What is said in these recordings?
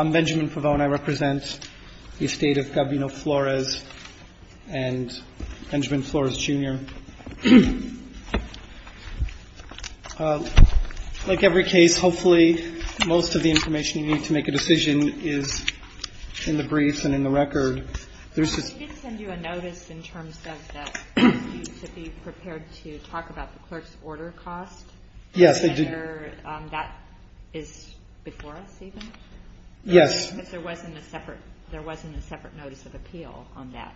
I'm Benjamin Favone. I represent the estate of Gabino Flores and Benjamin Flores Jr. Like every case, hopefully most of the information you need to make a decision is in the briefs and in the record. There's just – You didn't send you a notice in terms of that you should be prepared to talk about the clerk's order cost? Yes, I did. And that is before us even? Yes. Because there wasn't a separate notice of appeal on that.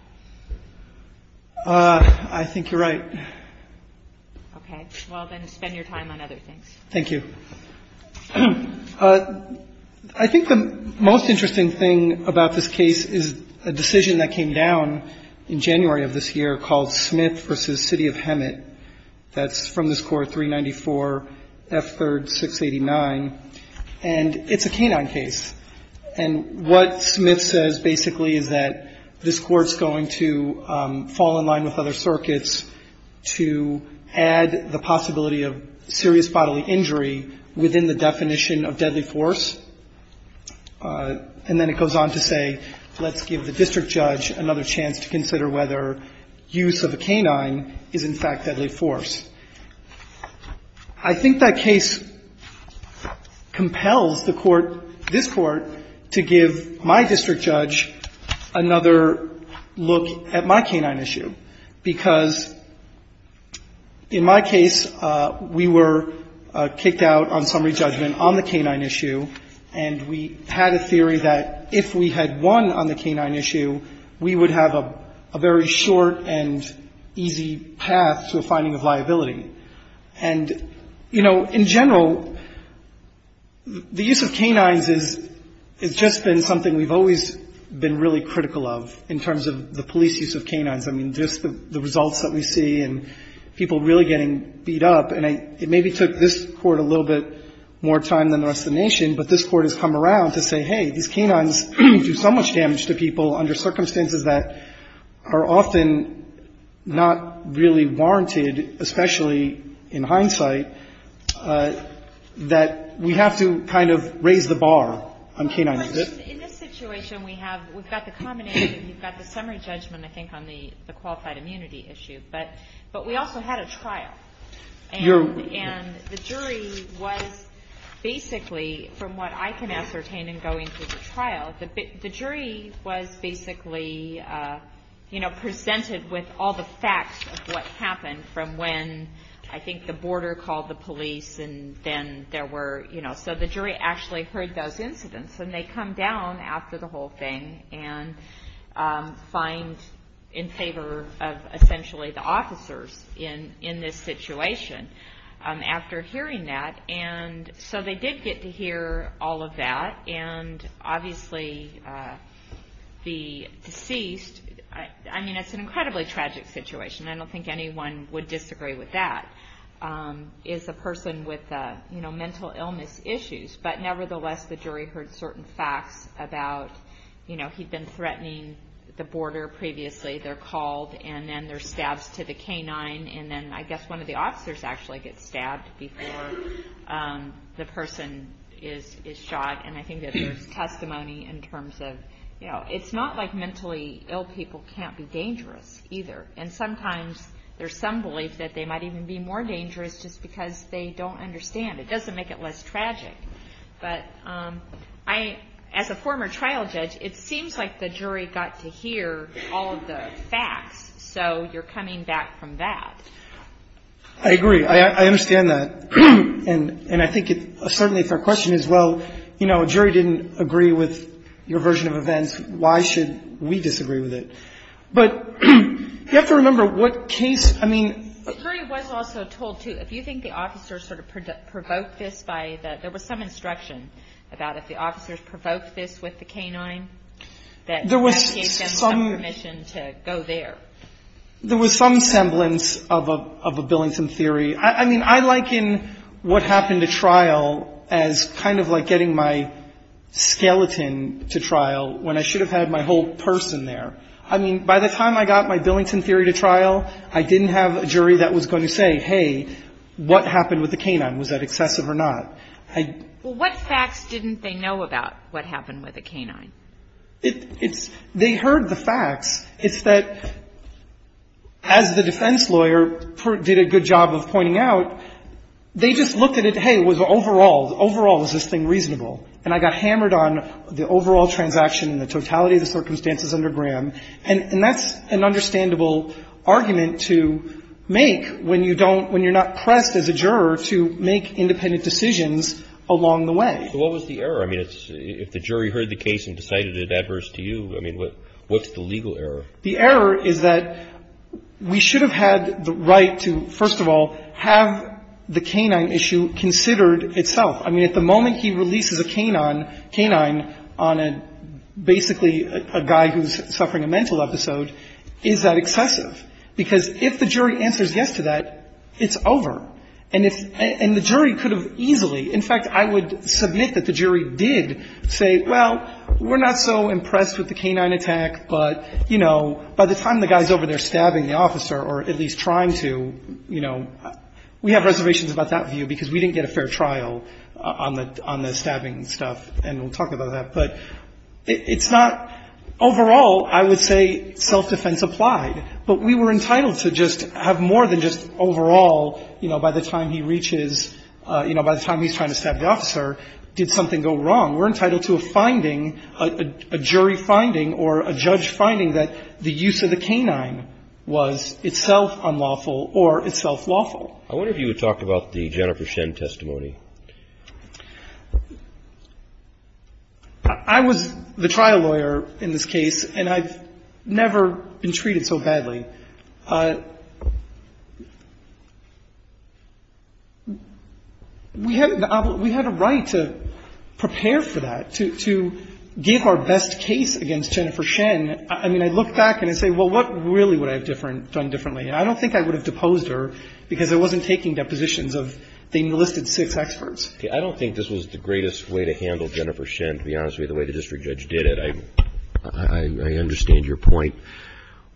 I think you're right. Okay. Well, then spend your time on other things. Thank you. I think the most interesting thing about this case is a decision that came down in January of this year called Smith v. City of Hemet. That's from this Court, 394 F. 3rd, 689. And it's a canine case. And what Smith says, basically, is that this Court's going to fall in line with other circuits to add the possibility of serious bodily injury within the definition of deadly force. And then it goes on to say, let's give the district judge another chance to consider whether use of a canine is, in fact, deadly force. I think that case compels the Court, this Court, to give my district judge another look at my canine issue, because in my case, we were kicked out on summary judgment on the canine issue, and we had a theory that if we had won on the canine issue, we would have a very short and easy path to a finding of liability. And, you know, in general, the use of canines has just been something we've always been really critical of in terms of the police use of canines. I mean, just the results that we see and people really getting beat up. And it maybe took this Court a little bit more time than the rest of the nation, but this Court has come around to say, hey, these canines do so much damage to people under circumstances that are often not really warranted, especially in hindsight, that we have to kind of raise the bar on canines. In this situation, we have the combination. You've got the summary judgment, I think, on the qualified immunity issue. But we also had a trial. And the jury was basically, from what I can ascertain in going through the trial, the jury was basically, you know, presented with all the facts of what happened from when, I think, the border called the police, and then there were, you know. So the jury actually heard those incidents, and they come down after the whole thing and find in favor of essentially the officers in this situation after hearing that. And so they did get to hear all of that. And obviously, the deceased, I mean, it's an incredibly tragic situation. I don't think anyone would disagree with that. It's a person with mental illness issues. But nevertheless, the jury heard certain facts about, you know, he'd been threatening the border previously. They're called, and then there's stabs to the canine. And then I guess one of the officers actually gets stabbed before the person is shot. And I think that there's testimony in terms of, you know, it's not like mentally ill people can't be dangerous either. And sometimes there's some belief that they might even be more dangerous just because they don't understand. It doesn't make it less tragic. But I, as a former trial judge, it seems like the jury got to hear all of the facts. So you're coming back from that. I agree. I understand that. And I think it's certainly if our question is, well, you know, a jury didn't agree with your version of events, why should we disagree with it? But you have to remember what case, I mean — The jury was also told, too, if you think the officers sort of provoked this by the — there was some instruction about if the officers provoked this with the canine, that gave them some permission to go there. There was some semblance of a Billington theory. I mean, I liken what happened at trial as kind of like getting my skeleton to trial when I should have had my whole person there. I mean, by the time I got my Billington theory to trial, I didn't have a jury that was going to say, hey, what happened with the canine? Was that excessive or not? I — Well, what facts didn't they know about what happened with the canine? It's — they heard the facts. It's that, as the defense lawyer did a good job of pointing out, they just looked at it, hey, was overall, overall, is this thing reasonable? And I got hammered on the overall transaction and the totality of the circumstances under Graham, and that's an understandable argument to make when you don't — when you're not pressed as a juror to make independent decisions along the way. So what was the error? I mean, if the jury heard the case and decided it adverse to you, I mean, what's the legal error? The error is that we should have had the right to, first of all, have the canine issue considered itself. I mean, at the moment he releases a canine on a — basically a guy who's suffering a mental episode, is that excessive? Because if the jury answers yes to that, it's over. And if — and the jury could have easily — in fact, I would submit that the jury did say, well, we're not so impressed with the canine attack, but, you know, by the time the guy's over there stabbing the officer, or at least trying to, you know, we have reservations about that view because we didn't get a fair trial on the — on the stabbing stuff, and we'll talk about that. But it's not — overall, I would say self-defense applied. But we were entitled to just have more than just overall, you know, by the time he reaches — you know, by the time he's trying to stab the officer, did something go wrong? We're entitled to a finding, a jury finding or a judge finding that the canine attack was awful. I wonder if you would talk about the Jennifer Shen testimony. I was the trial lawyer in this case, and I've never been treated so badly. We had — we had a right to prepare for that, to — to give our best case against Jennifer Shen. I mean, I look back and I say, well, what really would I have different — done differently? And I don't think I would have deposed her because I wasn't taking depositions of the enlisted six experts. I don't think this was the greatest way to handle Jennifer Shen, to be honest with you, the way the district judge did it. I understand your point.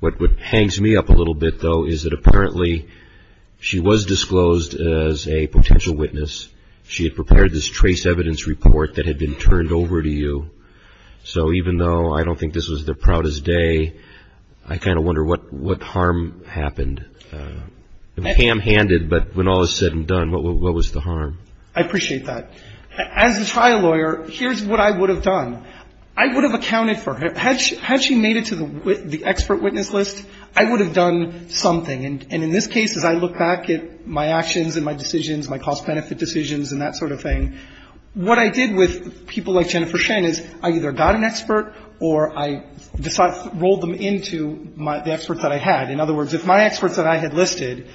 What hangs me up a little bit, though, is that apparently she was disclosed as a potential witness. She had prepared this trace evidence report that had been turned over to you. So even though I don't think this was the proudest day, I kind of wonder what harm happened. Ham-handed, but when all is said and done, what was the harm? I appreciate that. As a trial lawyer, here's what I would have done. I would have accounted for her. Had she made it to the expert witness list, I would have done something. And in this case, as I look back at my actions and my decisions, my cost benefit decisions and that sort of thing, what I did with people like Jennifer Shen is I either got an expert or I rolled them into the experts that I had. In other words, if my experts that I had listed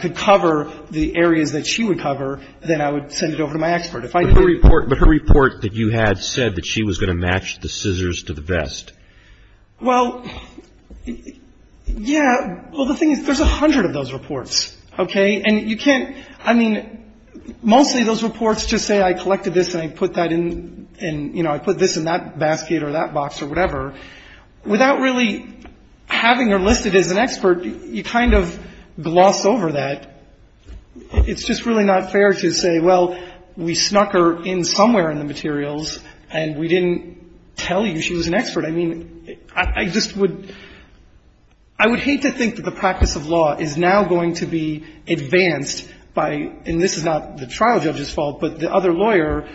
could cover the areas that she would cover, then I would send it over to my expert. If I didn't. But her report that you had said that she was going to match the scissors to the vest. Well, yeah. Well, the thing is, there's a hundred of those reports, okay? And you can't, I mean, mostly those reports just say I collected this and I put that in and, you know, I put this in that basket or that box or whatever. Without really having her listed as an expert, you kind of gloss over that. It's just really not fair to say, well, we snuck her in somewhere in the materials and we didn't tell you she was an expert. I mean, I just would, I would hate to think that the practice of law is now going to be advanced by, and this is not the trial judge's fault, but the other lawyer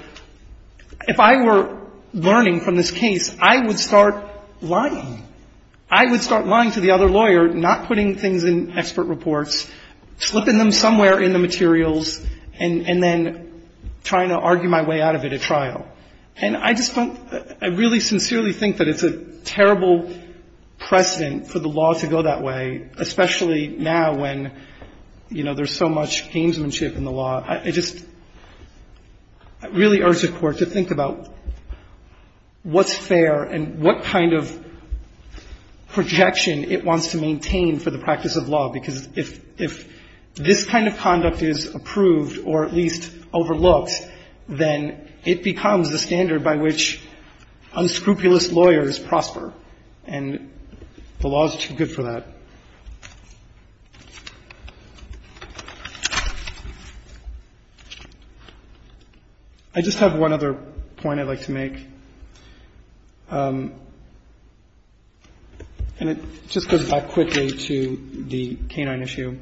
if I were learning from this case, I would start lying. I would start lying to the other lawyer, not putting things in expert reports, slipping them somewhere in the materials, and then trying to argue my way out of it at trial. And I just don't, I really sincerely think that it's a terrible precedent for the law to go that way, especially now when, you know, there's so much gamesmanship in the law. I just really urge the Court to think about what's fair and what kind of projection it wants to maintain for the practice of law, because if this kind of conduct is approved or at least overlooked, then it becomes the standard by which unscrupulous lawyers prosper, and the law is too good for that. I just have one other point I'd like to make, and it just goes back quickly to the canine issue.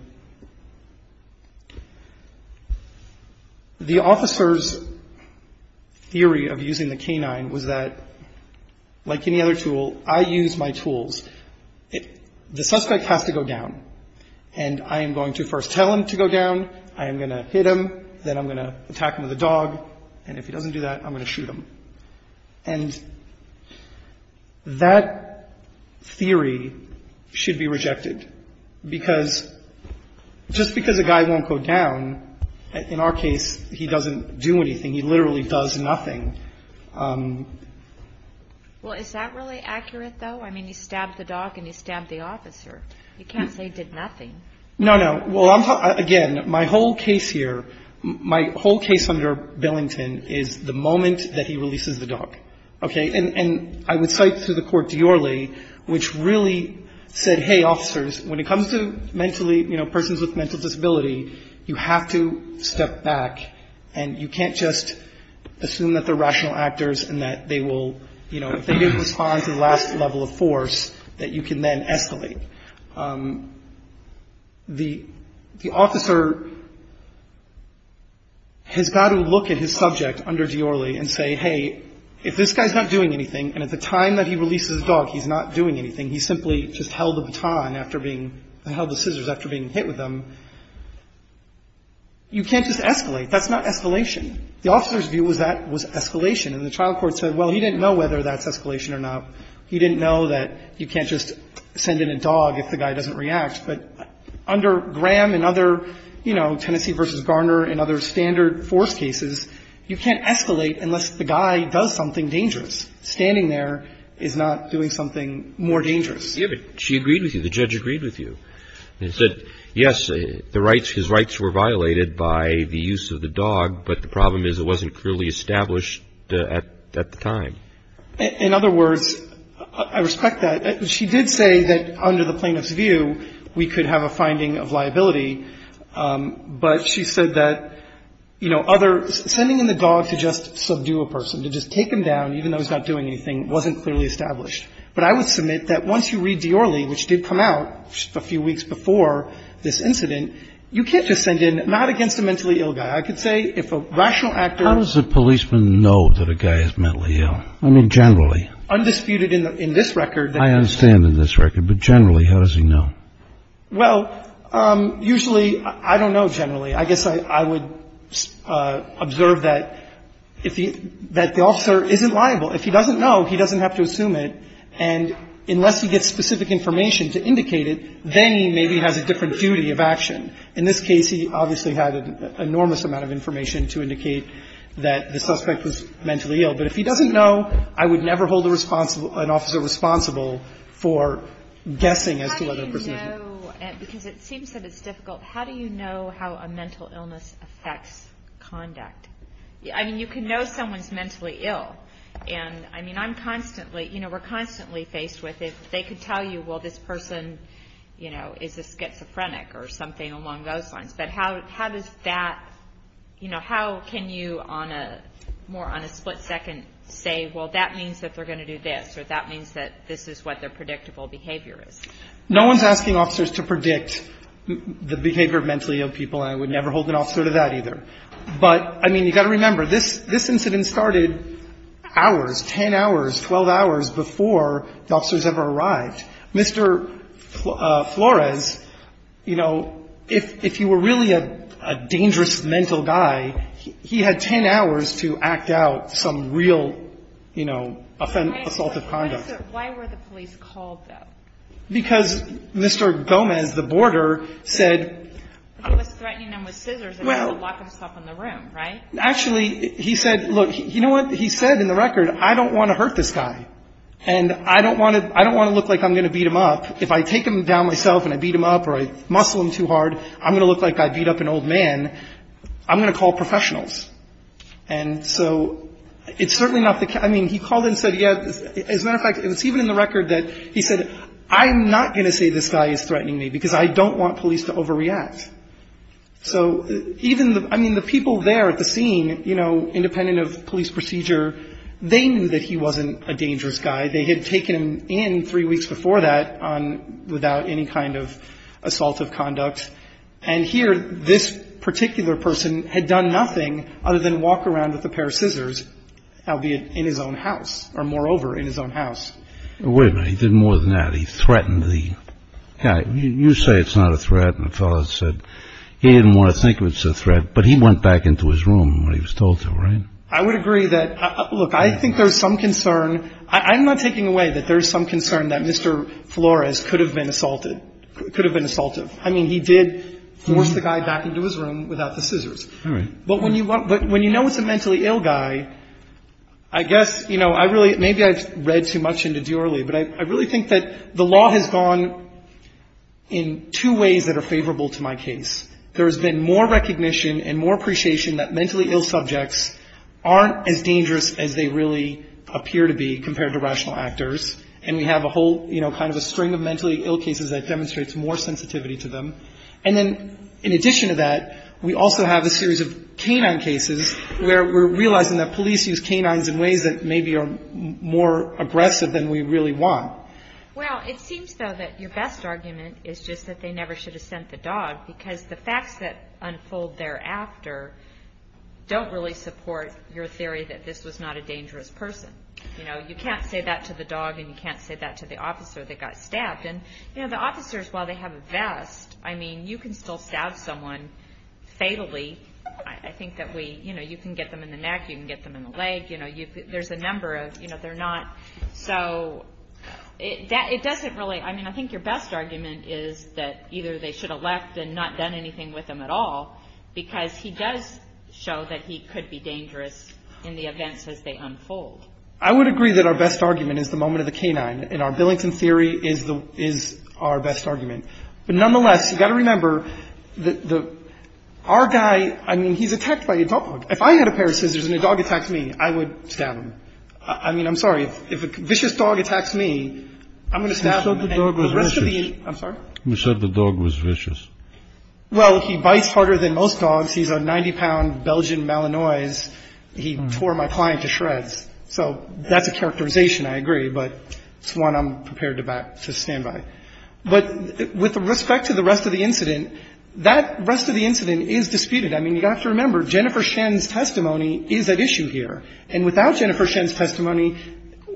The officer's theory of using the canine was that, like any other tool, I use my tools. The suspect has to go down, and I am going to first tell him to go down, I am going to hit him, then I'm going to attack him with a dog, and if he doesn't do that, I'm going to shoot him. And that theory should be rejected, because just because a guy won't go down, in our case, he doesn't do anything. He literally does nothing. Well, is that really accurate, though? I mean, you stabbed the dog and you stabbed the officer. You can't say he did nothing. No, no. Well, again, my whole case here, my whole case under Billington is the moment that he releases the dog. Okay? And I would cite through the court Diorle, which really said, hey, officers, when it comes to mentally, you know, persons with mental disability, you have to step back, and you can't just assume that they're rational actors and that they will, you know, if they didn't respond to the last level of force, that you can then escalate. The officer has got to look at his subject under Diorle and say, hey, if this guy's not doing anything, and at the time that he releases the dog, he's not doing anything, he simply just held the baton after being, held the scissors after being hit with them, you can't just escalate. That's not escalation. The officer's view was that was escalation. And the trial court said, well, he didn't know whether that's escalation or not. He didn't know that you can't just send in a dog if the guy doesn't react. But under Graham and other, you know, Tennessee v. Garner and other standard force cases, you can't escalate unless the guy does something dangerous. Standing there is not doing something more dangerous. Yeah, but she agreed with you. The judge agreed with you. And said, yes, the rights, his rights were violated by the use of the dog, but the problem is it wasn't clearly established at the time. In other words, I respect that. She did say that under the plaintiff's view, we could have a finding of liability, but she said that, you know, other, sending in the dog to just subdue a person, to just take him down, even though he's not doing anything, wasn't clearly established. But I would submit that once you read Diorle, which did come out just a few weeks before this incident, you can't just send in, not against a mentally ill guy. I could say if a rational actor. How does a policeman know that a guy is mentally ill? I mean, generally. Undisputed in this record. I understand in this record. But generally, how does he know? Well, usually, I don't know generally. I guess I would observe that if he, that the officer isn't liable. If he doesn't know, he doesn't have to assume it. And unless he gets specific information to indicate it, then he maybe has a different duty of action. In this case, he obviously had an enormous amount of information to indicate that the suspect was mentally ill. But if he doesn't know, I would never hold an officer responsible for guessing as to whether a person is ill. How do you know? Because it seems that it's difficult. How do you know how a mental illness affects conduct? I mean, you can know someone's mentally ill. And, I mean, I'm constantly, you know, we're constantly faced with it. If they could tell you, well, this person, you know, is a schizophrenic or something along those lines. But how does that, you know, how can you on a, more on a split second say, well, that means that they're going to do this. Or that means that this is what their predictable behavior is. No one's asking officers to predict the behavior of mentally ill people. And I would never hold an officer to that either. But, I mean, you got to remember, this incident started hours, 10 hours, 12 hours before the officers ever arrived. Mr. Flores, you know, if you were really a dangerous mental guy, he had 10 hours to act out some real, you know, assaultive conduct. Why were the police called, though? Because Mr. Gomez, the boarder, said. He was threatening them with scissors. Well. To lock himself in the room, right? Actually, he said, look, you know what? He said in the record, I don't want to hurt this guy. And I don't want to look like I'm going to beat him up. If I take him down myself and I beat him up or I muscle him too hard, I'm going to look like I beat up an old man. I'm going to call professionals. And so it's certainly not the case. I mean, he called and said, yeah, as a matter of fact, it was even in the record that he said, I'm not going to say this guy is threatening me because I don't want police to overreact. So even the – I mean, the people there at the scene, you know, independent of police procedure, they knew that he wasn't a dangerous guy. They had taken him in three weeks before that on – without any kind of assaultive conduct. And here this particular person had done nothing other than walk around with a pair of scissors, albeit in his own house, or moreover, in his own house. Wait a minute. He did more than that. He threatened the guy. You say it's not a threat and the fellow said he didn't want to think it was a threat, but he went back into his room when he was told to, right? I would agree that – look, I think there's some concern – I'm not taking away that there's some concern that Mr. Flores could have been assaulted – could have been assaultive. I mean, he did force the guy back into his room without the scissors. All right. But when you know it's a mentally ill guy, I guess, you know, I really – maybe I've read too much into Duerley, but I really think that the law has gone in two ways that are favorable to my case. There has been more recognition and more appreciation that mentally ill subjects aren't as dangerous as they really appear to be compared to rational actors, and we have a whole, you know, kind of a string of mentally ill cases that demonstrates more sensitivity to them. And then in addition to that, we also have a series of canine cases where we're more aggressive than we really want. Well, it seems, though, that your best argument is just that they never should have sent the dog because the facts that unfold thereafter don't really support your theory that this was not a dangerous person. You know, you can't say that to the dog and you can't say that to the officer that got stabbed. And, you know, the officers, while they have a vest, I mean, you can still stab someone fatally. I think that we – you know, you can get them in the neck, you can get them in the leg. You know, there's a number of – you know, they're not – so it doesn't really – I mean, I think your best argument is that either they should have left and not done anything with him at all because he does show that he could be dangerous in the events as they unfold. I would agree that our best argument is the moment of the canine, and our Billington theory is our best argument. But nonetheless, you've got to remember that our guy – I mean, he's attacked by a dog. If I had a pair of scissors and a dog attacks me, I would stab him. I mean, I'm sorry. If a vicious dog attacks me, I'm going to stab him. The rest of the – I'm sorry? You said the dog was vicious. Well, he bites harder than most dogs. He's a 90-pound Belgian Malinois. He tore my client to shreds. So that's a characterization, I agree, but it's one I'm prepared to stand by. But with respect to the rest of the incident, that rest of the incident is disputed. I mean, you've got to remember, Jennifer Shen's testimony is at issue here. And without Jennifer Shen's testimony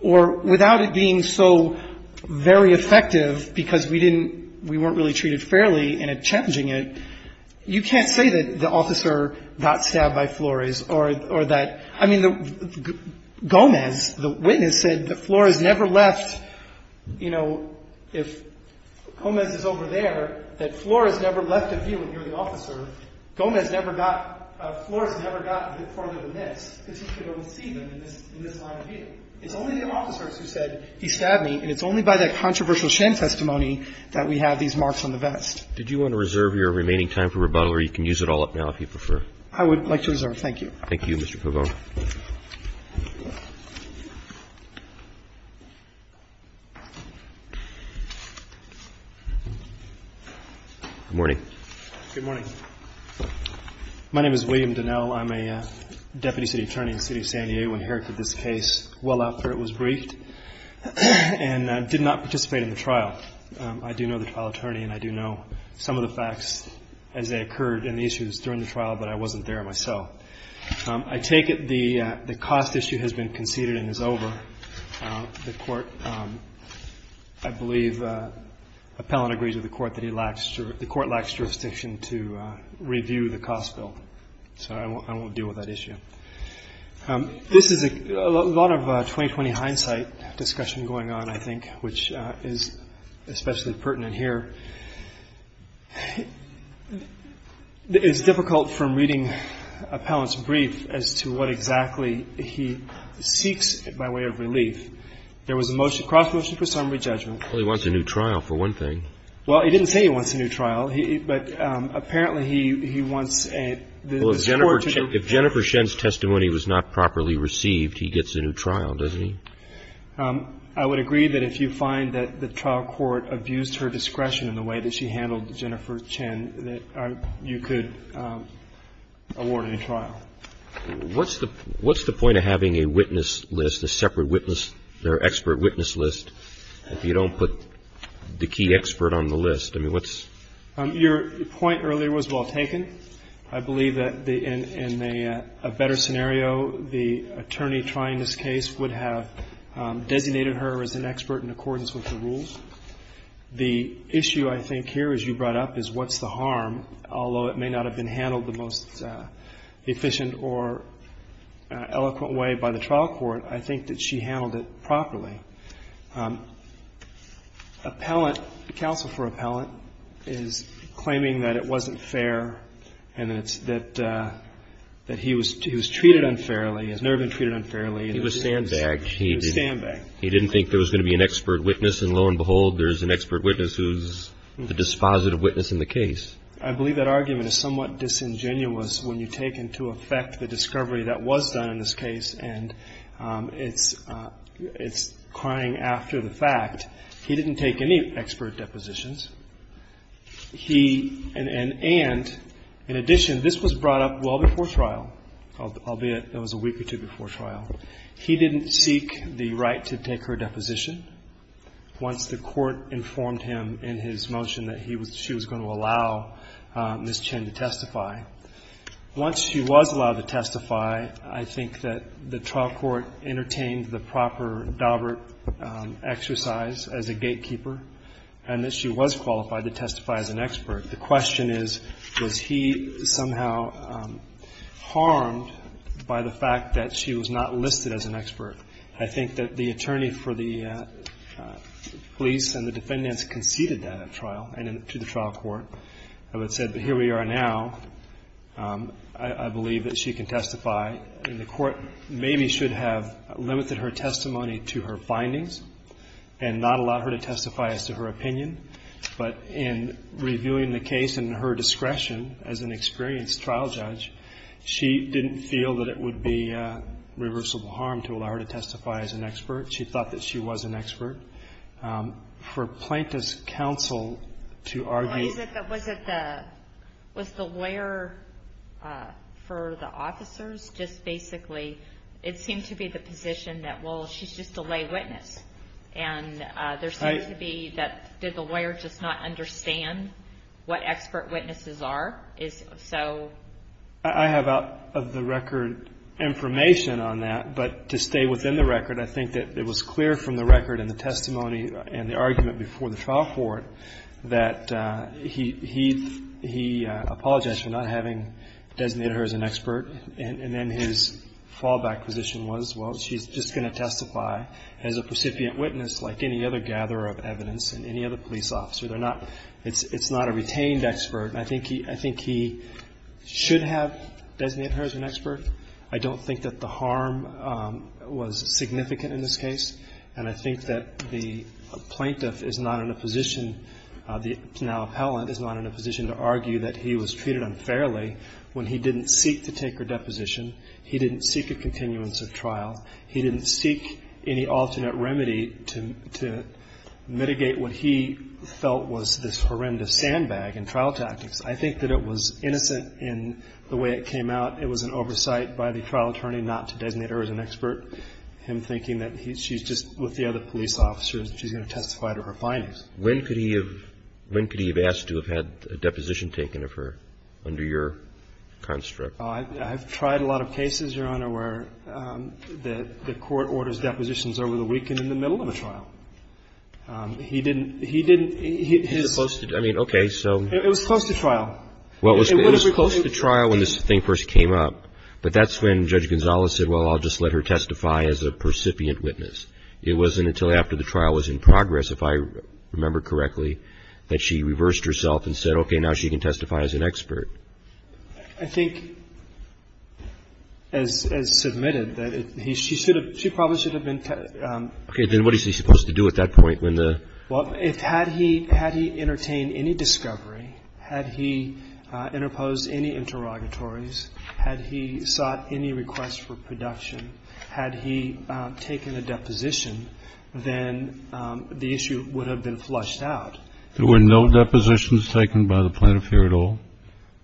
or without it being so very effective because we didn't – we weren't really treated fairly in challenging it, you can't say that the officer got stabbed by Flores or that – I mean, Gomez, the witness, said that Flores never left – you know, if Gomez is over there, that Flores never got further than this because he could only see them in this line of view. It's only the officers who said he stabbed me, and it's only by that controversial Shen testimony that we have these marks on the vest. Did you want to reserve your remaining time for rebuttal, or you can use it all up now if you prefer? I would like to reserve. Thank you. Thank you, Mr. Pavone. Good morning. Good morning. My name is William Donnell. I'm a deputy city attorney in the city of San Diego. I inherited this case well after it was briefed and did not participate in the trial. I do know the trial attorney, and I do know some of the facts as they occurred and the issues during the trial, but I wasn't there myself. I take it the cost issue has been conceded and is over. The court, I believe, appellant agrees with the court that he lacks – the court lacks jurisdiction to review the cost bill, so I won't deal with that issue. This is a lot of 20-20 hindsight discussion going on, I think, which is especially pertinent here. It's difficult from reading appellant's brief as to what exactly he seeks by way of relief. There was a motion – cross motion for summary judgment. Well, he wants a new trial, for one thing. Well, he didn't say he wants a new trial. He – but apparently he wants a – this Court – Well, if Jennifer – if Jennifer Shen's testimony was not properly received, he gets a new trial, doesn't he? I would agree that if you find that the trial court abused her discretion in the way that she handled Jennifer Shen, that you could award a new trial. What's the – what's the point of having a witness list, a separate witness or expert witness list, if you don't put the key expert on the list? I mean, what's – Your point earlier was well taken. I believe that in a better scenario, the attorney trying this case would have designated her as an expert in accordance with the rules. The issue I think here, as you brought up, is what's the harm. Although it may not have been handled the most efficient or eloquent way by the trial court, I think that she handled it properly. Appellant – counsel for appellant is claiming that it wasn't fair and that – that he was treated unfairly, has never been treated unfairly. He was sandbagged. He was sandbagged. He didn't think there was going to be an expert witness, and lo and behold, there's an expert witness who's the dispositive witness in the case. I believe that argument is somewhat disingenuous when you take into effect the discovery that was done in this case, and it's – it's crying after the fact. He didn't take any expert depositions. He – and in addition, this was brought up well before trial, albeit it was a week or two before trial. He didn't seek the right to take her deposition once the court informed him in his motion that he was – she was going to allow Ms. Chin to testify. Once she was allowed to testify, I think that the trial court entertained the proper Dobbert exercise as a gatekeeper and that she was qualified to testify as an expert. The question is, was he somehow harmed by the fact that she was not listed as an expert? I think that the attorney for the police and the defendants conceded that at trial and to the trial court. I would say that here we are now, I believe that she can testify, and the court maybe should have limited her testimony to her findings and not allowed her to testify as to her opinion. But in reviewing the case in her discretion as an experienced trial judge, she didn't feel that it would be reversible harm to allow her to testify as an expert. She thought that she was an expert. For plaintiff's counsel to argue – Was it the – was the lawyer for the officers just basically – it seemed to be the position that, well, she's just a lay witness. And there seemed to be that – did the lawyer just not understand what expert witnesses are? Is – so – I have out of the record information on that, but to stay within the record, I think that it was clear from the record in the testimony and the argument before the trial court that he apologized for not having designated her as an expert. And then his fallback position was, well, she's just going to testify as a recipient witness like any other gatherer of evidence and any other police officer. They're not – it's not a retained expert. And I think he – I think he should have designated her as an expert. I don't think that the harm was significant in this case. And I think that the plaintiff is not in a position – the now appellant is not in a position to argue that he was treated unfairly when he didn't seek to take her deposition, he didn't seek a continuance of trial, he didn't seek any alternate remedy to mitigate what he felt was this horrendous sandbag in trial tactics. I think that it was innocent in the way it came out. It was an oversight by the trial attorney not to designate her as an expert, him thinking that she's just – with the other police officers, she's going to testify to her findings. When could he have – when could he have asked to have had a deposition taken of her under your construct? I've tried a lot of cases, Your Honor, where the court orders depositions over the weekend in the middle of a trial. He didn't – he didn't – his – It was close to – I mean, okay, so – It was close to trial. Well, it was close to trial when this thing first came up, but that's when Judge Gonzales said, well, I'll just let her testify as a percipient witness. It wasn't until after the trial was in progress, if I remember correctly, that she reversed herself and said, okay, now she can testify as an expert. I think, as submitted, that she should have – she probably should have been – Okay, then what is he supposed to do at that point when the – Well, if – had he – had he entertained any discovery, had he interposed any interrogatories, had he sought any requests for production, had he taken a deposition, then the issue would have been flushed out. There were no depositions taken by the plaintiff here at all?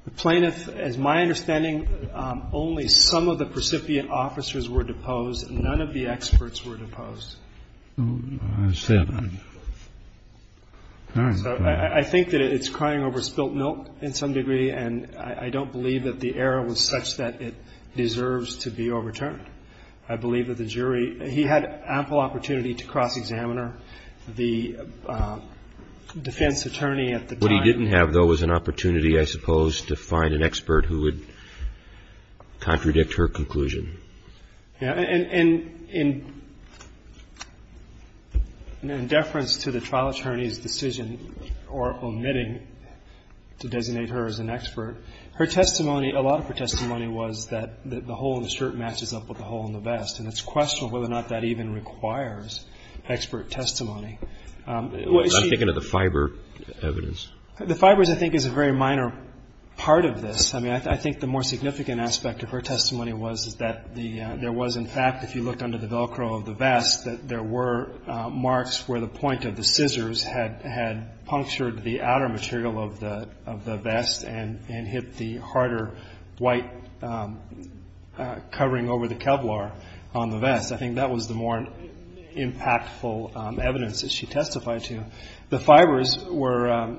The plaintiff – as my understanding, only some of the precipient officers were deposed. None of the experts were deposed. I think that it's crying over spilt milk in some degree, and I don't believe that the error was such that it deserves to be overturned. I believe that the jury – he had ample opportunity to cross-examiner the defense attorney at the time. What he didn't have, though, was an opportunity, I suppose, to find an expert who would contradict her conclusion. Yeah. And in deference to the trial attorney's decision or omitting to designate her as an expert, her testimony – a lot of her testimony was that the hole in the shirt matches up with the hole in the vest, and it's questionable whether or not that even requires expert testimony. I'm thinking of the fiber evidence. The fibers, I think, is a very minor part of this. I mean, I think the more significant aspect of her testimony was that there was, in fact, if you looked under the Velcro of the vest, that there were marks where the point of the scissors had punctured the outer material of the vest and hit the harder white covering over the Kevlar on the vest. I think that was the more impactful evidence that she testified to. The fibers were,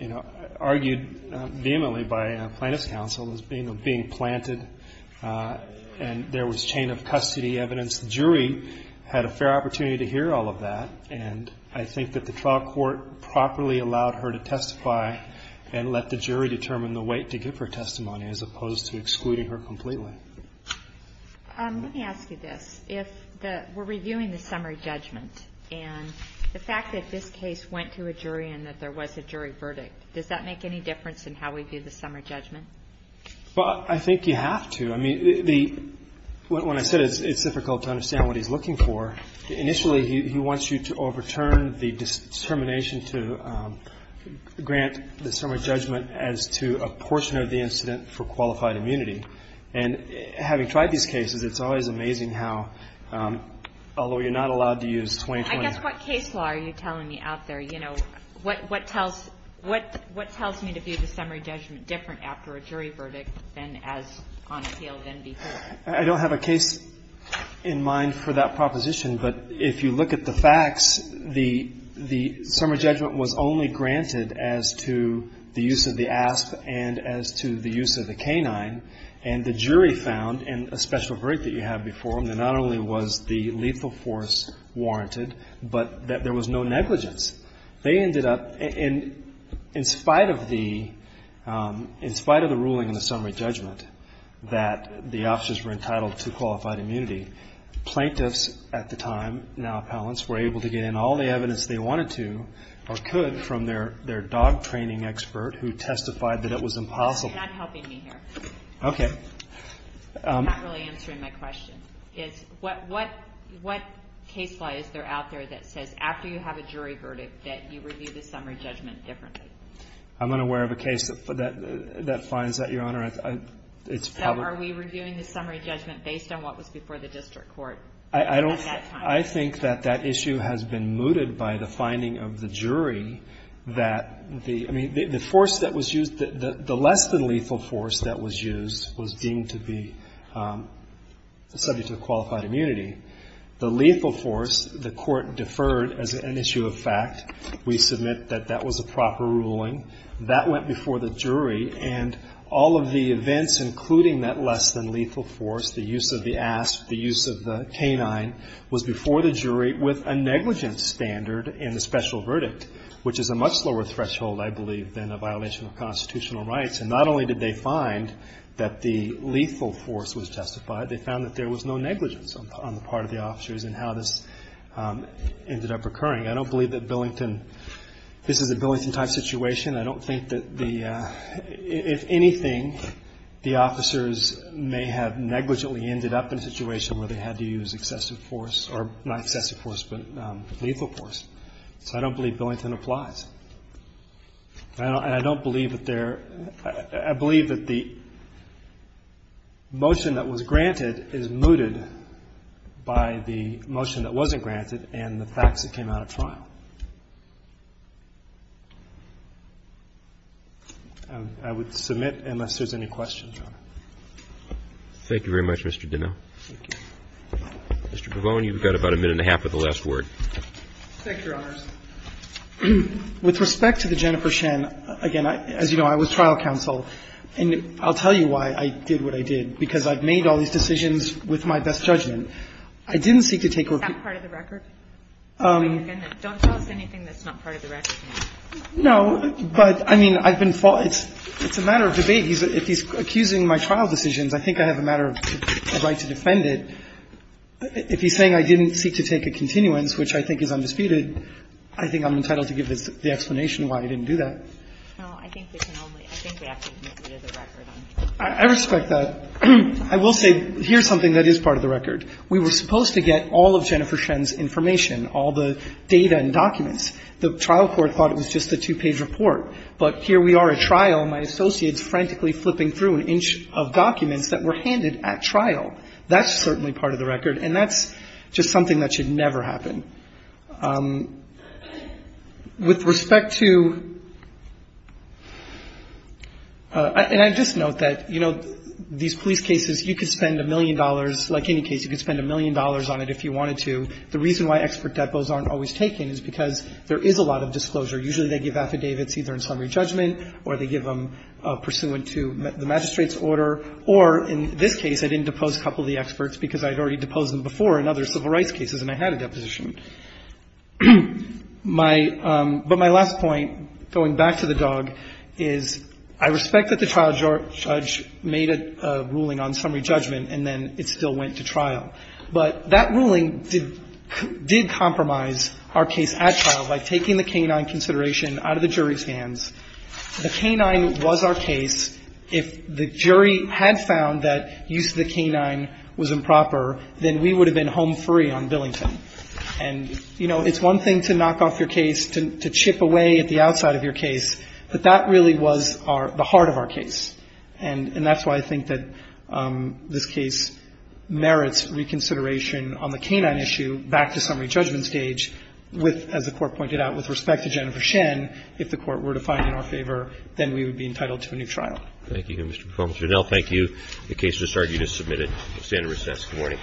you know, argued vehemently by plaintiff's counsel as being planted, and there was chain of custody evidence. The jury had a fair opportunity to hear all of that, and I think that the trial court properly allowed her to testify and let the jury determine the weight to give her testimony as opposed to excluding her completely. Let me ask you this. We're reviewing the summary judgment, and the fact that this case went to a jury and that there was a jury verdict, does that make any difference in how we view the summary judgment? Well, I think you have to. I mean, when I said it's difficult to understand what he's looking for, initially he wants you to overturn the determination to grant the summary judgment as to a portion of the incident for qualified immunity. And having tried these cases, it's always amazing how, although you're not allowed to use 2020. I guess what case law are you telling me out there? You know, what tells me to view the summary judgment different after a jury verdict than as on appeal than before? I don't have a case in mind for that proposition, but if you look at the facts, the summary judgment was only granted as to the use of the ASP and as to the use of the K-9. And the jury found, in a special verdict that you had before, that not only was the lethal force warranted, but that there was no negligence. They ended up, in spite of the ruling in the summary judgment that the officers were entitled to qualified immunity, plaintiffs at the time, now appellants, were able to get in all the evidence they wanted to or could from their dog training expert who testified that it was impossible. You're not helping me here. Okay. You're not really answering my question. What case law is there out there that says after you have a jury verdict that you review the summary judgment differently? I'm unaware of a case that finds that, Your Honor. So are we reviewing the summary judgment based on what was before the district court at that time? I think that that issue has been mooted by the finding of the jury that the force that was used, the less than lethal force that was used was deemed to be subject to qualified immunity. The lethal force, the court deferred as an issue of fact. We submit that that was a proper ruling. That went before the jury, and all of the events, including that less than lethal force, the use of the ASP, the use of the K-9, was before the jury with a negligence standard in the special verdict, which is a much slower threshold, I believe, than a violation of constitutional rights. And not only did they find that the lethal force was justified, they found that there was no negligence on the part of the officers in how this ended up occurring. I don't believe that Billington, this is a Billington-type situation. I don't think that the, if anything, the officers may have negligently ended up in a situation where they had to use excessive force, or not excessive force, but lethal force. So I don't believe Billington applies. And I don't believe that there, I believe that the motion that was granted is mooted by the motion that wasn't granted and the facts that came out at trial. I would submit, unless there's any questions. Roberts. Thank you very much, Mr. Demille. Thank you. Mr. Pavone, you've got about a minute and a half with the last word. Thank you, Your Honors. With respect to the Jennifer Shen, again, as you know, I was trial counsel. And I'll tell you why I did what I did, because I've made all these decisions with my best judgment. I didn't seek to take a recourse. Is that part of the record? Don't tell us anything that's not part of the record. No. But, I mean, I've been, it's a matter of debate. If he's accusing my trial decisions, I think I have a matter of right to defend it. If he's saying I didn't seek to take a continuance, which I think is undisputed, I think I'm entitled to give the explanation why I didn't do that. No, I think we can only, I think we have to admit that it is a record. I respect that. I will say, here's something that is part of the record. We were supposed to get all of Jennifer Shen's information, all the data and documents. The trial court thought it was just a two-page report. But here we are at trial, my associates frantically flipping through an inch of documents that were handed at trial. That's certainly part of the record. And that's just something that should never happen. With respect to, and I just note that, you know, these police cases, you could spend a million dollars, like any case, you could spend a million dollars on it if you wanted to. The reason why expert depots aren't always taken is because there is a lot of disclosure. Usually they give affidavits either in summary judgment or they give them pursuant to the magistrate's order. Or in this case, I didn't depose a couple of the experts because I had already deposed them before in other civil rights cases and I had a deposition. My – but my last point, going back to the dog, is I respect that the trial judge made a ruling on summary judgment and then it still went to trial. But that ruling did compromise our case at trial by taking the canine consideration out of the jury's hands. The canine was our case. If the jury had found that use of the canine was improper, then we would have been home free on Billington. And, you know, it's one thing to knock off your case, to chip away at the outside of your case, but that really was the heart of our case. And that's why I think that this case merits reconsideration on the canine issue back to summary judgment stage with, as the Court pointed out, with respect to Jennifer Thank you. Mr. Performance. Janelle, thank you. The case has started. You just submitted. Stand and recess. Good morning.